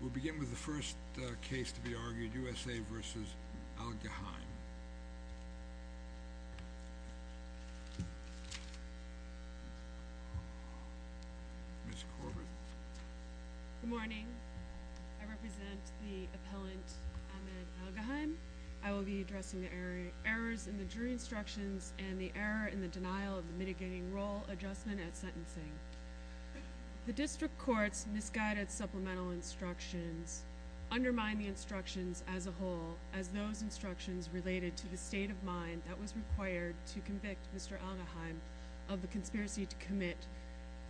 We'll begin with the first case to be argued, USA v. Al-Gaheim. Ms. Corbett. Good morning. I represent the appellant Ahmed Al-Gaheim. I will be addressing the errors in the jury instructions and the error in the denial of the mitigating role adjustment at sentencing. The district court's misguided supplemental instructions undermine the instructions as a whole, as those instructions related to the state of mind that was required to convict Mr. Al-Gaheim of the conspiracy to commit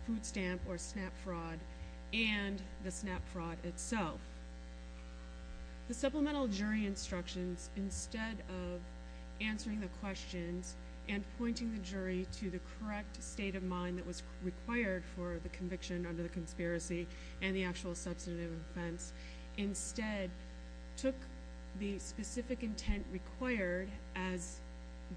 food stamp or SNAP fraud and the SNAP fraud itself. The supplemental jury instructions, instead of answering the questions and pointing the jury to the correct state of mind that was required for the conviction under the conspiracy and the actual substantive offense, instead took the specific intent required as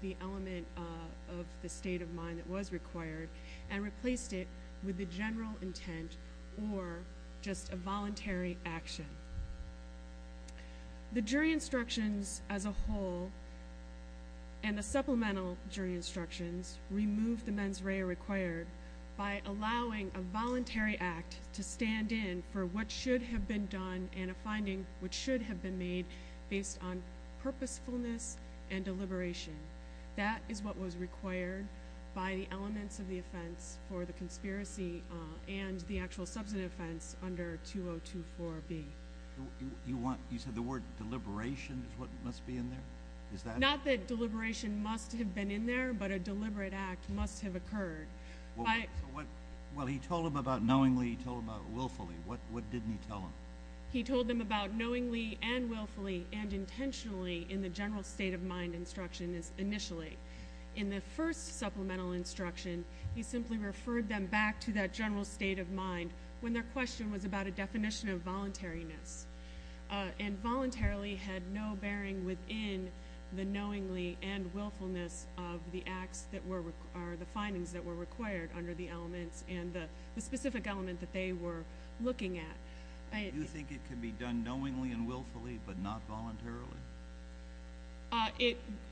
the element of the state of mind that was required and replaced it with the general intent or just a voluntary action. The jury instructions as a whole and the supplemental jury instructions removed the mens rea required by allowing a voluntary act to stand in for what should have been done and a finding which should have been made based on purposefulness and deliberation. That is what was required by the elements of the offense for the conspiracy and the actual substantive offense under 2024B. You said the word deliberation is what must be in there? Not that deliberation must have been in there, but a deliberate act must have occurred. Well, he told them about knowingly, he told them about willfully. What didn't he tell them? He told them about knowingly and willfully and intentionally in the general state of mind instruction initially. In the first supplemental instruction, he simply referred them back to that general state of mind when their question was about a definition of voluntariness and voluntarily had no bearing within the knowingly and willfulness of the findings that were required under the elements and the specific element that they were looking at. Do you think it can be done knowingly and willfully but not voluntarily?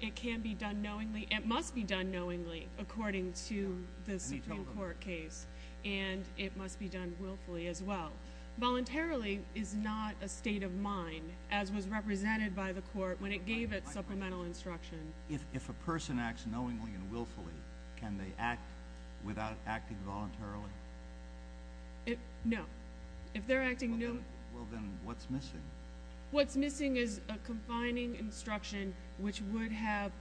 It can be done knowingly, it must be done knowingly according to the Supreme Court case and it must be done willfully as well. Voluntarily is not a state of mind as was represented by the court when it gave it supplemental instruction. If a person acts knowingly and willfully, can they act without acting voluntarily? No. Well, then what's missing? What's missing is a confining instruction which would have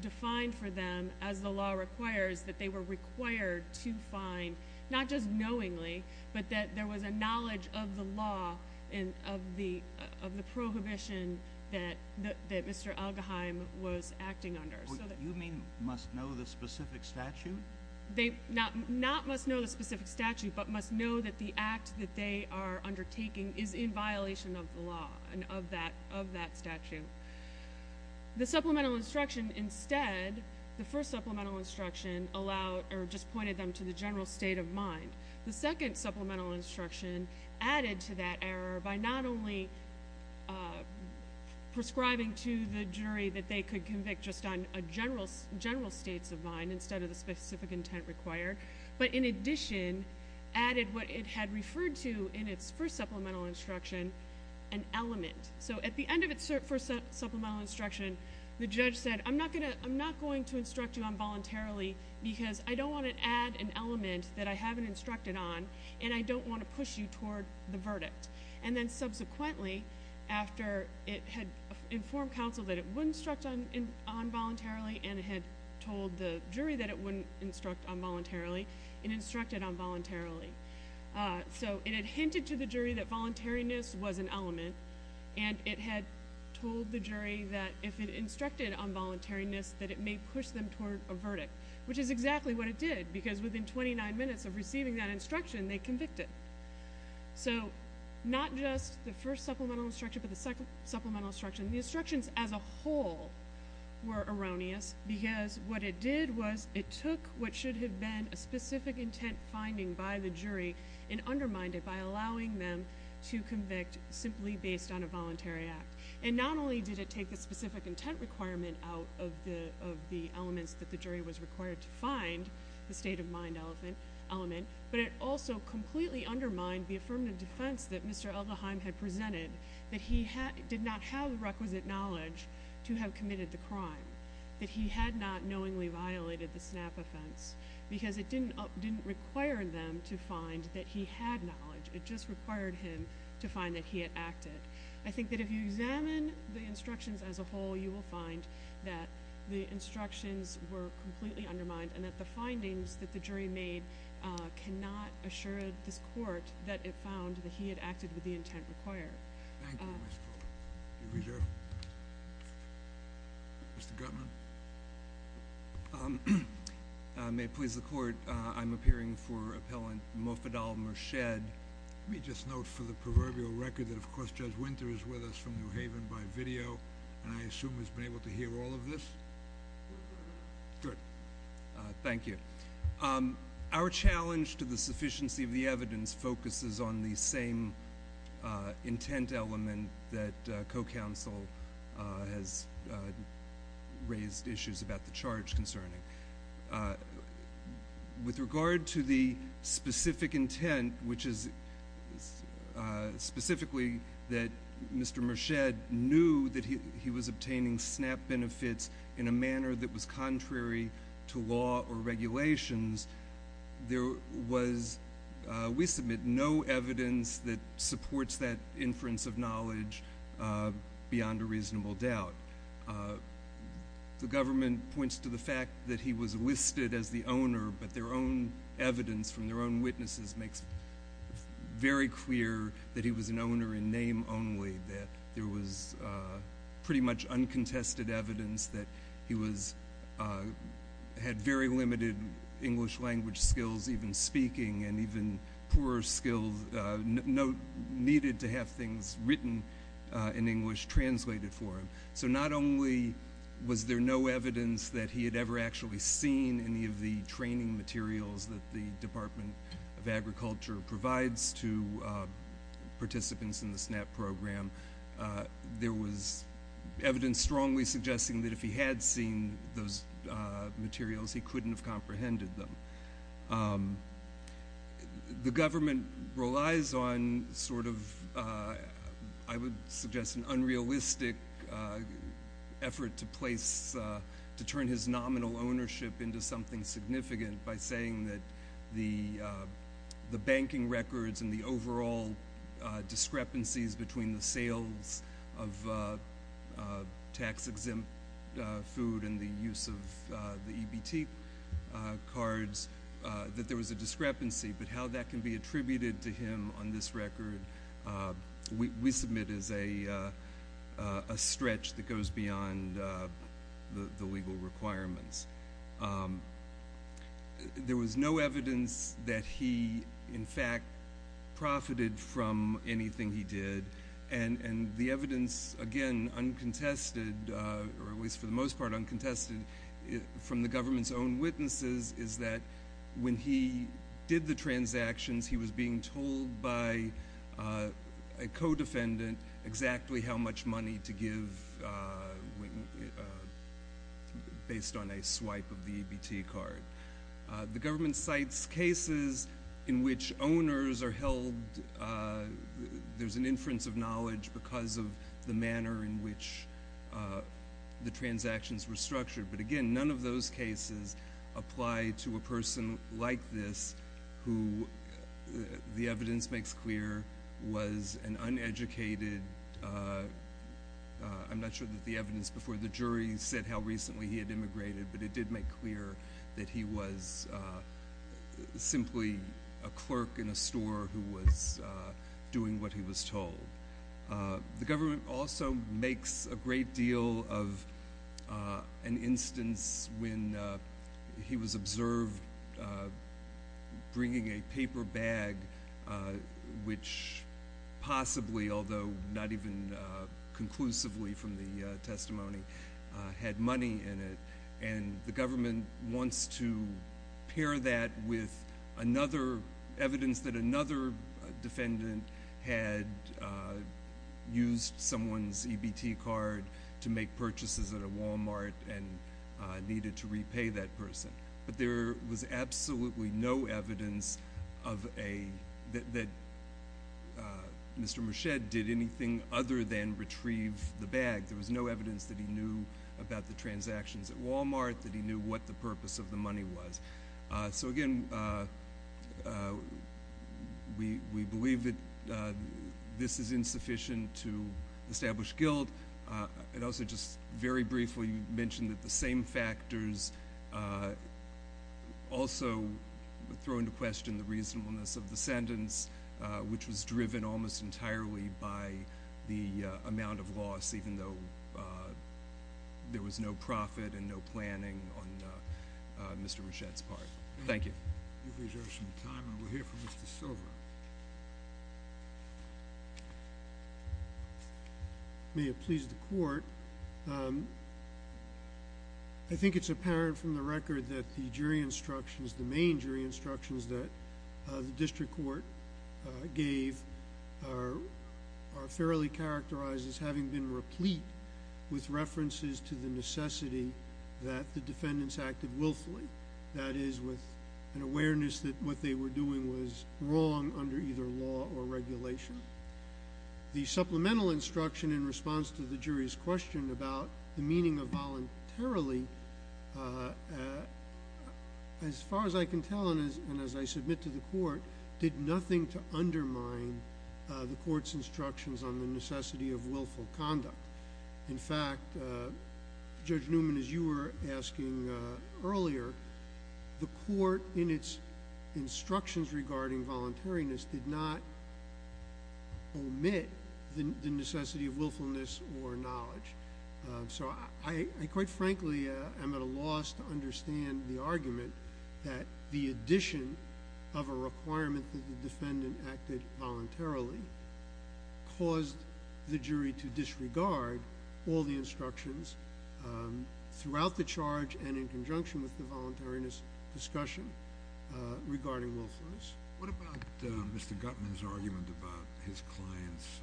defined for them as the law requires that they were required to find, not just knowingly, but that there was a knowledge of the law and of the prohibition that Mr. Algeheim was acting under. You mean must know the specific statute? They not must know the specific statute but must know that the act that they are undertaking is in violation of the law and of that statute. The supplemental instruction instead, the first supplemental instruction allowed or just pointed them to the general state of mind. The second supplemental instruction added to that error by not only prescribing to the jury that they could convict just on general states of mind instead of the specific intent required, but in addition added what it had referred to in its first supplemental instruction, an element. So at the end of its first supplemental instruction, the judge said, I'm not going to instruct you on voluntarily because I don't want to add an element that I haven't instructed on and I don't want to push you toward the verdict. And then subsequently, after it had informed counsel that it would instruct on voluntarily and it had told the jury that it wouldn't instruct on voluntarily, it instructed on voluntarily. So it had hinted to the jury that voluntariness was an element, and it had told the jury that if it instructed on voluntariness that it may push them toward a verdict, which is exactly what it did because within 29 minutes of receiving that instruction, they convicted. So not just the first supplemental instruction but the second supplemental instruction. The instructions as a whole were erroneous because what it did was it took what should have been a specific intent finding by the jury and undermined it by allowing them to convict simply based on a voluntary act. And not only did it take the specific intent requirement out of the elements that the jury was required to find, the state of mind element, but it also completely undermined the affirmative defense that Mr. Aldeheim had presented, that he did not have the requisite knowledge to have committed the crime, that he had not knowingly violated the snap offense because it didn't require them to find that he had knowledge. It just required him to find that he had acted. I think that if you examine the instructions as a whole, you will find that the instructions were completely undermined and that the findings that the jury made cannot assure this court that it found that he had acted with the intent required. Thank you, Ms. Fuller. Mr. Gutman? May it please the court, I'm appearing for Appellant Moffedal-Murched. Let me just note for the proverbial record that of course Judge Winter is with us from New Haven by video and I assume has been able to hear all of this? Good. Thank you. Our challenge to the sufficiency of the evidence focuses on the same intent element that co-counsel has raised issues about the charge concerning. With regard to the specific intent, which is specifically that Mr. Murched knew that he was obtaining snap benefits in a manner that was contrary to law or regulations, there was, we submit, no evidence that supports that inference of knowledge beyond a reasonable doubt. The government points to the fact that he was listed as the owner, but their own evidence from their own witnesses makes very clear that he was an owner in name only, that there was pretty much uncontested evidence that he had very limited English language skills, even speaking and even poorer skills needed to have things written in English translated for him. So not only was there no evidence that he had ever actually seen any of the training materials that the Department of Agriculture provides to participants in the SNAP program, there was evidence strongly suggesting that if he had seen those materials, he couldn't have comprehended them. The government relies on sort of, I would suggest, an unrealistic effort to place, to turn his nominal ownership into something significant by saying that the banking records and the overall discrepancies between the sales of tax-exempt food and the use of the EBT cards, that there was a discrepancy, but how that can be attributed to him on this record, we submit as a stretch that goes beyond the legal requirements. There was no evidence that he, in fact, profited from anything he did, and the evidence, again, uncontested, or at least for the most part uncontested, from the government's own witnesses is that when he did the transactions, he was being told by a co-defendant exactly how much money to give based on a swipe of the EBT card. The government cites cases in which owners are held, there's an inference of knowledge because of the manner in which the transactions were structured, but again, none of those cases apply to a person like this who, the evidence makes clear, was an uneducated, I'm not sure that the evidence before the jury said how recently he had immigrated, but it did make clear that he was simply a clerk in a store who was doing what he was told. The government also makes a great deal of an instance when he was observed bringing a paper bag which possibly, although not even conclusively from the testimony, had money in it, and the government wants to pair that with evidence that another defendant had used someone's EBT card to make purchases at a Walmart and needed to repay that person, but there was absolutely no evidence that Mr. Machete did anything other than retrieve the bag. There was no evidence that he knew about the transactions at Walmart, that he knew what the purpose of the money was. So again, we believe that this is insufficient to establish guilt. I'd also just very briefly mention that the same factors also throw into question the reasonableness of the sentence, which was driven almost entirely by the amount of loss, even though there was no profit and no planning on Mr. Machete's part. Thank you. You've reserved some time, and we'll hear from Mr. Silver. May it please the court, I think it's apparent from the record that the jury instructions, the main jury instructions that the district court gave are fairly characterized as having been replete with references to the necessity that the defendants acted willfully, that is, with an awareness that what they were doing was wrong under either law or regulation. The supplemental instruction in response to the jury's question about the meaning of voluntarily, as far as I can tell and as I submit to the court, did nothing to undermine the court's instructions on the necessity of willful conduct. In fact, Judge Newman, as you were asking earlier, the court in its instructions regarding voluntariness did not omit the necessity of willfulness or knowledge. So I quite frankly am at a loss to understand the argument that the addition of a requirement that the defendant acted voluntarily caused the jury to disregard all the instructions throughout the charge and in conjunction with the voluntariness discussion regarding willfulness. What about Mr. Gutman's argument about his client's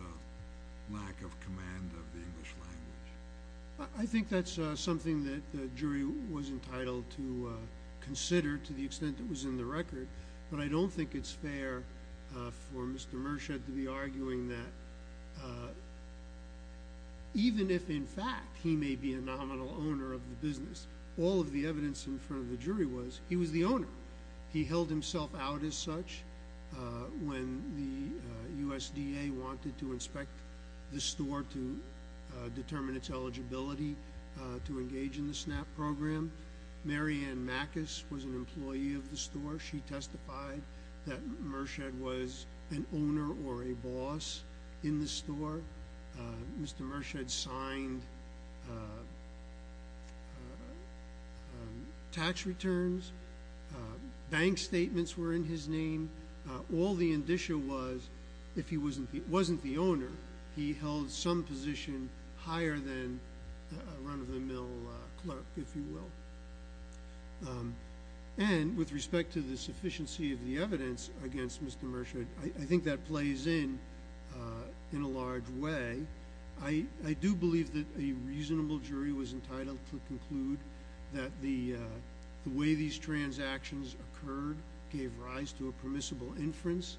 lack of command of the English language? I think that's something that the jury was entitled to consider to the extent that was in the record. But I don't think it's fair for Mr. Murchad to be arguing that even if in fact he may be a nominal owner of the business, all of the evidence in front of the jury was he was the owner. He held himself out as such when the USDA wanted to inspect the store to determine its eligibility to engage in the SNAP program. Mary Ann Mackus was an employee of the store. She testified that Murchad was an owner or a boss in the store. Mr. Murchad signed tax returns. Bank statements were in his name. All the indicia was if he wasn't the owner, he held some position higher than a run-of-the-mill clerk, if you will. And with respect to the sufficiency of the evidence against Mr. Murchad, I think that plays in in a large way. I do believe that a reasonable jury was entitled to conclude that the way these transactions occurred gave rise to a permissible inference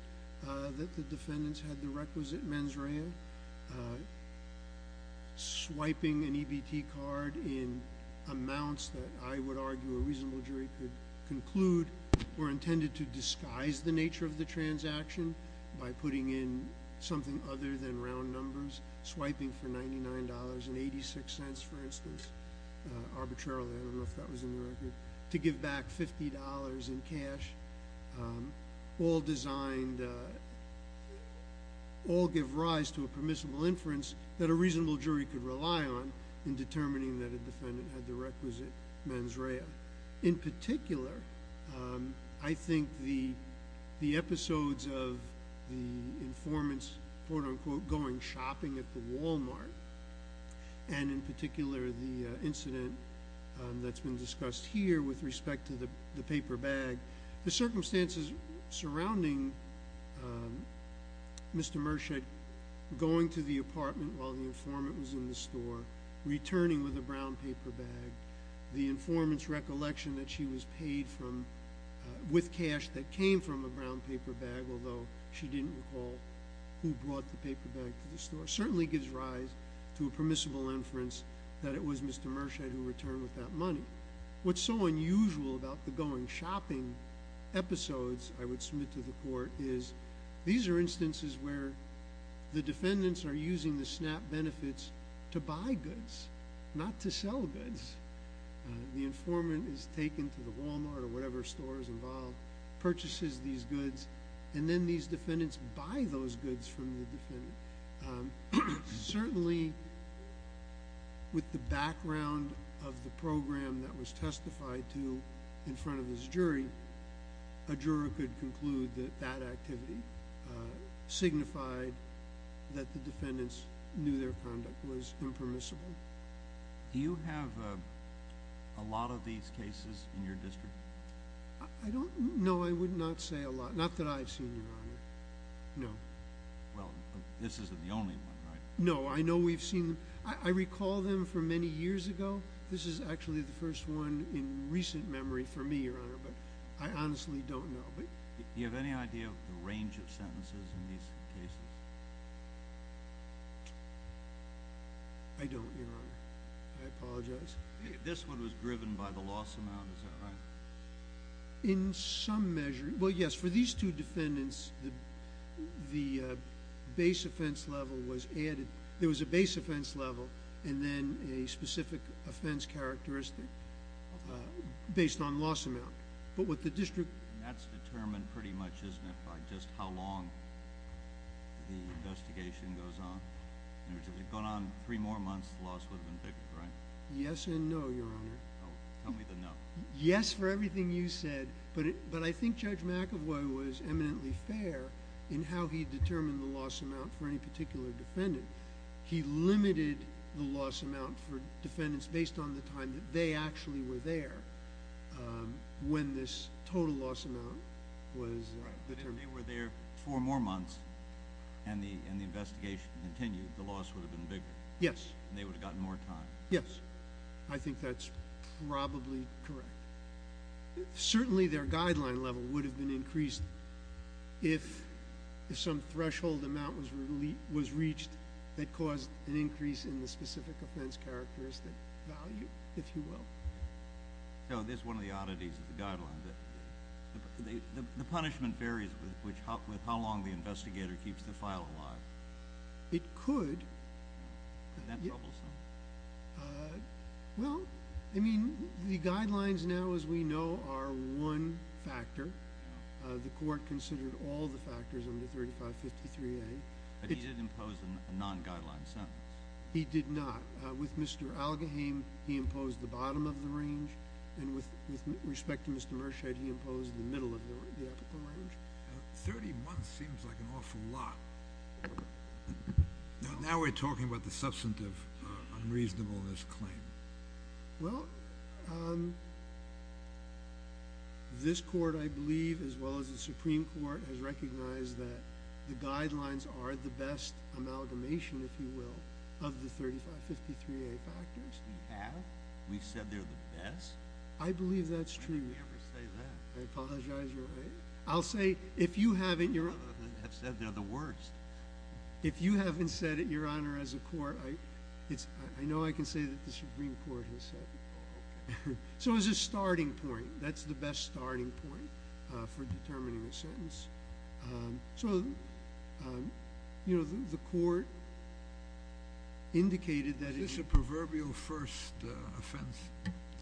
that the defendants had the requisite mens rea. Swiping an EBT card in amounts that I would argue a reasonable jury could conclude were intended to disguise the nature of the transaction by putting in something other than round numbers. Swiping for $99.86, for instance, arbitrarily, I don't know if that was in the record, to give back $50 in cash. All designed, all give rise to a permissible inference that a reasonable jury could rely on in determining that a defendant had the requisite mens rea. In particular, I think the episodes of the informants, quote-unquote, going shopping at the Walmart, and in particular the incident that's been discussed here with respect to the paper bag. The circumstances surrounding Mr. Murchad going to the apartment while the informant was in the store, returning with a brown paper bag, the informant's recollection that she was paid with cash that came from a brown paper bag, although she didn't recall who brought the paper bag to the store, certainly gives rise to a permissible inference that it was Mr. Murchad who returned with that money. What's so unusual about the going shopping episodes, I would submit to the court, is these are instances where the defendants are using the SNAP benefits to buy goods, not to sell goods. The informant is taken to the Walmart or whatever store is involved, purchases these goods, and then these defendants buy those goods from the defendant. Certainly, with the background of the program that was testified to in front of this jury, a juror could conclude that that activity signified that the defendants knew their conduct was impermissible. Do you have a lot of these cases in your district? No, I would not say a lot. Not that I've seen them, Your Honor. No. Well, this isn't the only one, right? No, I know we've seen them. I recall them from many years ago. This is actually the first one in recent memory for me, Your Honor, but I honestly don't know. Do you have any idea of the range of sentences in these cases? I don't, Your Honor. I apologize. This one was driven by the loss amount, is that right? In some measure. Well, yes. For these two defendants, the base offense level was added. There was a base offense level and then a specific offense characteristic based on loss amount. That's determined pretty much, isn't it, by just how long the investigation goes on? If it had gone on three more months, the loss would have been bigger, right? Yes and no, Your Honor. Tell me the no. Yes for everything you said, but I think Judge McEvoy was eminently fair in how he determined the loss amount for any particular defendant. He limited the loss amount for defendants based on the time that they actually were there when this total loss amount was determined. Right. If they were there four more months and the investigation continued, the loss would have been bigger. Yes. And they would have gotten more time. Yes. I think that's probably correct. Certainly their guideline level would have been increased if some threshold amount was reached that caused an increase in the specific offense characteristic value, if you will. So this is one of the oddities of the guideline. The punishment varies with how long the investigator keeps the file alive. It could. Isn't that troublesome? Well, I mean, the guidelines now, as we know, are one factor. The court considered all the factors under 3553A. But he didn't impose a non-guideline sentence. He did not. With Mr. Algaheim, he imposed the bottom of the range, and with respect to Mr. Mershad, he imposed the middle of the range. Thirty months seems like an awful lot. Now we're talking about the substantive unreasonableness claim. Well, this court, I believe, as well as the Supreme Court, has recognized that the guidelines are the best amalgamation, if you will, of the 3553A factors. We have? We've said they're the best? I believe that's true. How can you ever say that? I apologize. You're right. I'll say, if you haven't— They have said they're the worst. If you haven't said it, Your Honor, as a court, I know I can say that the Supreme Court has said it. Oh, okay. So it's a starting point. That's the best starting point for determining a sentence. So, you know, the court indicated that it— Is this a proverbial first offense?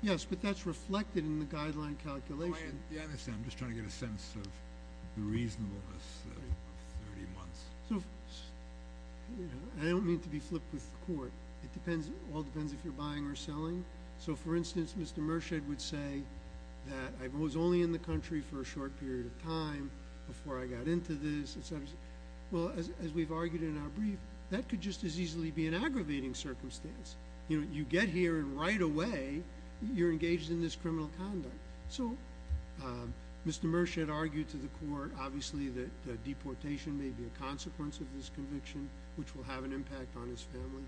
Yes, but that's reflected in the guideline calculation. Yeah, I understand. I'm just trying to get a sense of the reasonableness of 30 months. I don't mean to be flipped with the court. It all depends if you're buying or selling. So, for instance, Mr. Merchand would say that I was only in the country for a short period of time before I got into this, et cetera. Well, as we've argued in our brief, that could just as easily be an aggravating circumstance. You know, you get here and right away you're engaged in this criminal conduct. So Mr. Merchand argued to the court, obviously, that deportation may be a consequence of this conviction, which will have an impact on his family.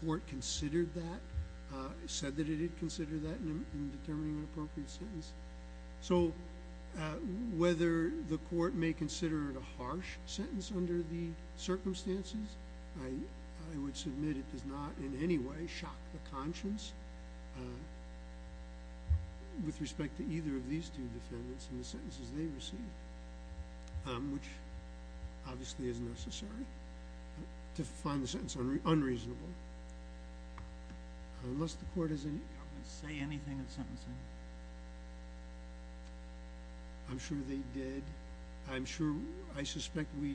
The court considered that, said that it had considered that in determining an appropriate sentence. So whether the court may consider it a harsh sentence under the circumstances, I would submit it does not in any way shock the conscience. With respect to either of these two defendants and the sentences they received, which obviously is necessary to find the sentence unreasonable. Unless the court has any comments. Did they say anything in sentencing? I'm sure they did. I'm sure. I suspect we.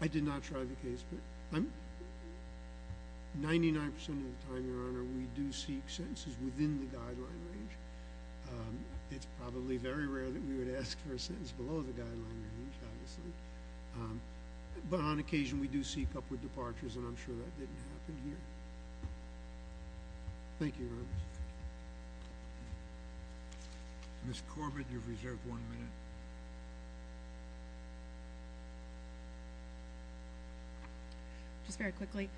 I did not try the case. 99% of the time, Your Honor, we do seek sentences within the guideline range. It's probably very rare that we would ask for a sentence below the guideline range, obviously. But on occasion, we do seek upward departures, and I'm sure that didn't happen here. Thank you, Your Honor. Ms. Corbett, you've reserved one minute. Just very quickly,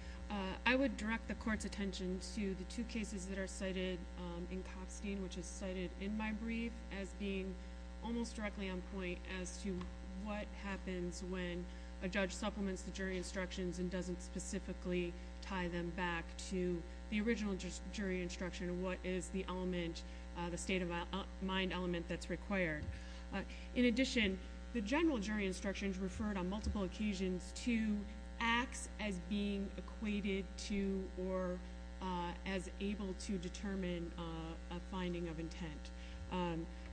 I would direct the court's attention to the two cases that are cited in Kopstein, which is cited in my brief as being almost directly on point as to what happens when a judge supplements the jury instructions and doesn't specifically tie them back to the original jury instruction. What is the element, the state of mind element that's required? In addition, the general jury instructions referred on multiple occasions to acts as being equated to or as able to determine a finding of intent.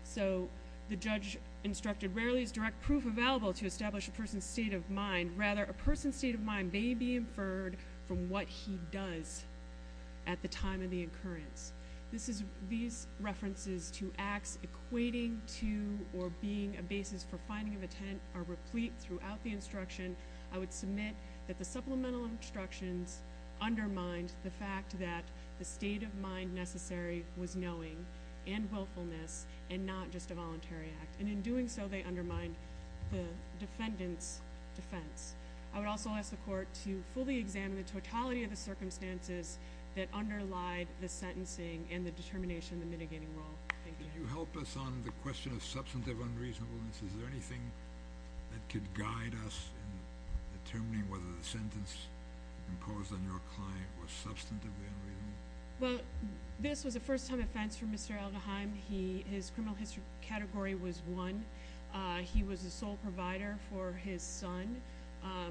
So the judge instructed, Rarely is direct proof available to establish a person's state of mind. Rather, a person's state of mind may be inferred from what he does at the time of the occurrence. These references to acts equating to or being a basis for finding of intent are replete throughout the instruction. I would submit that the supplemental instructions undermined the fact that the state of mind necessary was knowing and willfulness and not just a voluntary act. And in doing so, they undermined the defendant's defense. I would also ask the court to fully examine the totality of the circumstances that underlie the sentencing and the determination of the mitigating role. Thank you. Can you help us on the question of substantive unreasonableness? Is there anything that could guide us in determining whether the sentence imposed on your client was substantively unreasonable? Well, this was a first-time offense for Mr. Alderheim. His criminal history category was one. He was a sole provider for his son.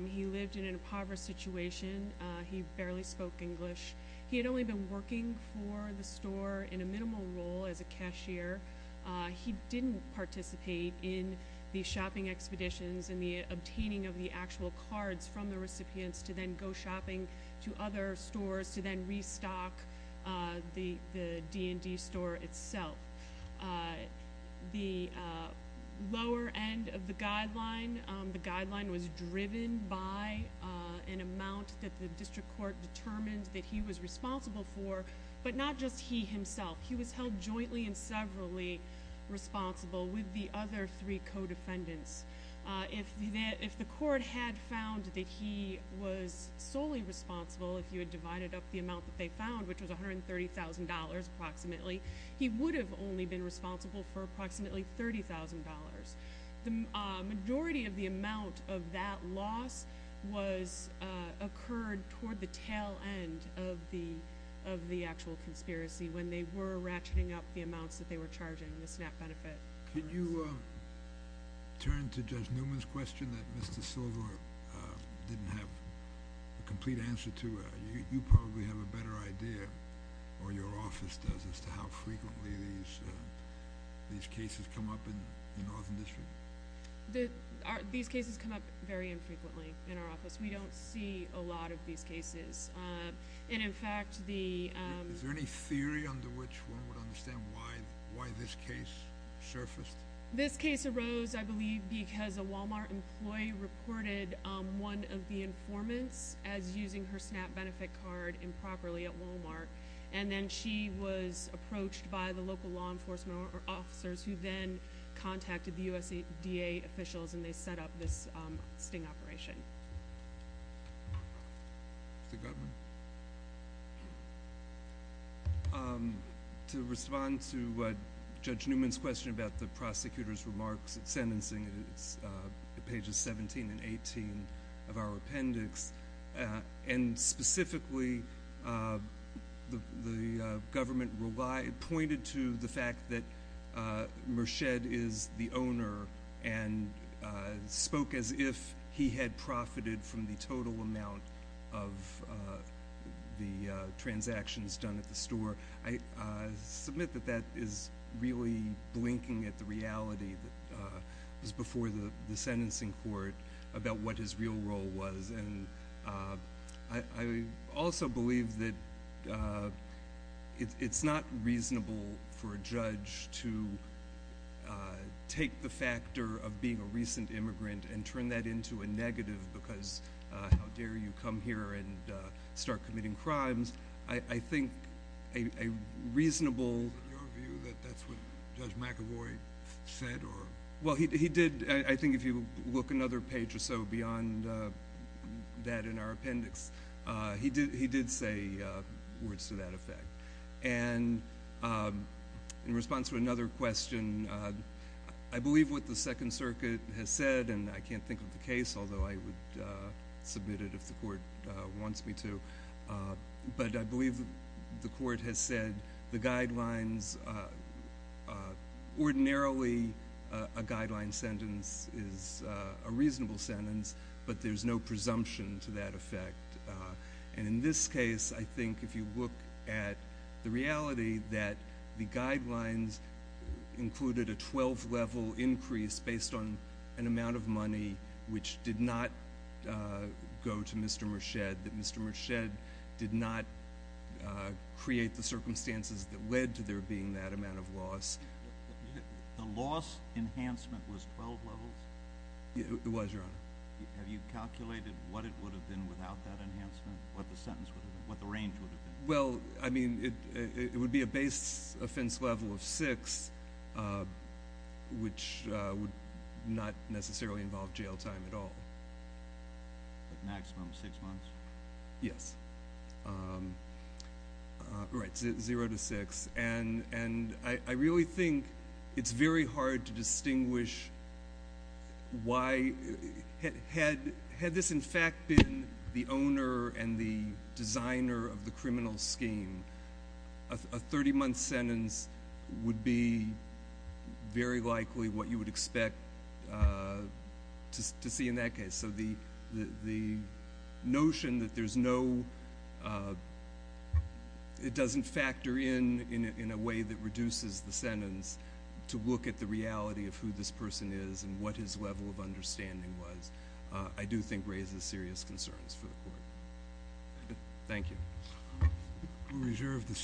He lived in an impoverished situation. He barely spoke English. He had only been working for the store in a minimal role as a cashier. He didn't participate in the shopping expeditions and the obtaining of the actual cards from the recipients to then go shopping to other stores to then restock the D&D store itself. The lower end of the guideline, the guideline was driven by an amount that the district court determined that he was responsible for, but not just he himself. He was held jointly and severally responsible with the other three co-defendants. If the court had found that he was solely responsible if you had divided up the amount that they found, which was $130,000 approximately, he would have only been responsible for approximately $30,000. The majority of the amount of that loss occurred toward the tail end of the actual conspiracy when they were ratcheting up the amounts that they were charging, the SNAP benefit. Could you turn to Judge Newman's question that Mr. Silver didn't have a complete answer to? You probably have a better idea, or your office does, as to how frequently these cases come up in the Northern District. These cases come up very infrequently in our office. We don't see a lot of these cases. In fact, the... Is there any theory under which one would understand why this case surfaced? This case arose, I believe, because a Walmart employee reported one of the informants as using her SNAP benefit card improperly at Walmart, and then she was approached by the local law enforcement officers who then contacted the USDA officials, and they set up this sting operation. Mr. Goodwin? To respond to Judge Newman's question about the prosecutor's remarks at sentencing, it's pages 17 and 18 of our appendix, and specifically the government pointed to the fact that Merched is the owner and spoke as if he had profited from the total amount of the transactions done at the store. I submit that that is really blinking at the reality that was before the sentencing court about what his real role was. I also believe that it's not reasonable for a judge to take the factor of being a recent immigrant and turn that into a negative because, how dare you come here and start committing crimes. I think a reasonable... Is it your view that that's what Judge McAvoy said? Well, he did. I think if you look another page or so beyond that in our appendix, he did say words to that effect. And in response to another question, I believe what the Second Circuit has said, and I can't think of the case, although I would submit it if the court wants me to, but I believe the court has said the guidelines, ordinarily a guideline sentence is a reasonable sentence, but there's no presumption to that effect. And in this case, I think if you look at the reality that the guidelines included a 12-level increase based on an amount of money which did not go to Mr. Merched, that Mr. Merched did not create the circumstances that led to there being that amount of loss... The loss enhancement was 12 levels? It was, Your Honor. Have you calculated what it would have been without that enhancement, what the sentence would have been, what the range would have been? Well, I mean, it would be a base offense level of six, which would not necessarily involve jail time at all. Maximum six months? Yes. Right, zero to six. And I really think it's very hard to distinguish why... Had this, in fact, been the owner and the designer of the criminal scheme, a 30-month sentence would be very likely what you would expect to see in that case. So the notion that there's no... it doesn't factor in in a way that reduces the sentence to look at the reality of who this person is and what his level of understanding was, I do think raises serious concerns for the Court. Thank you. We'll reserve the...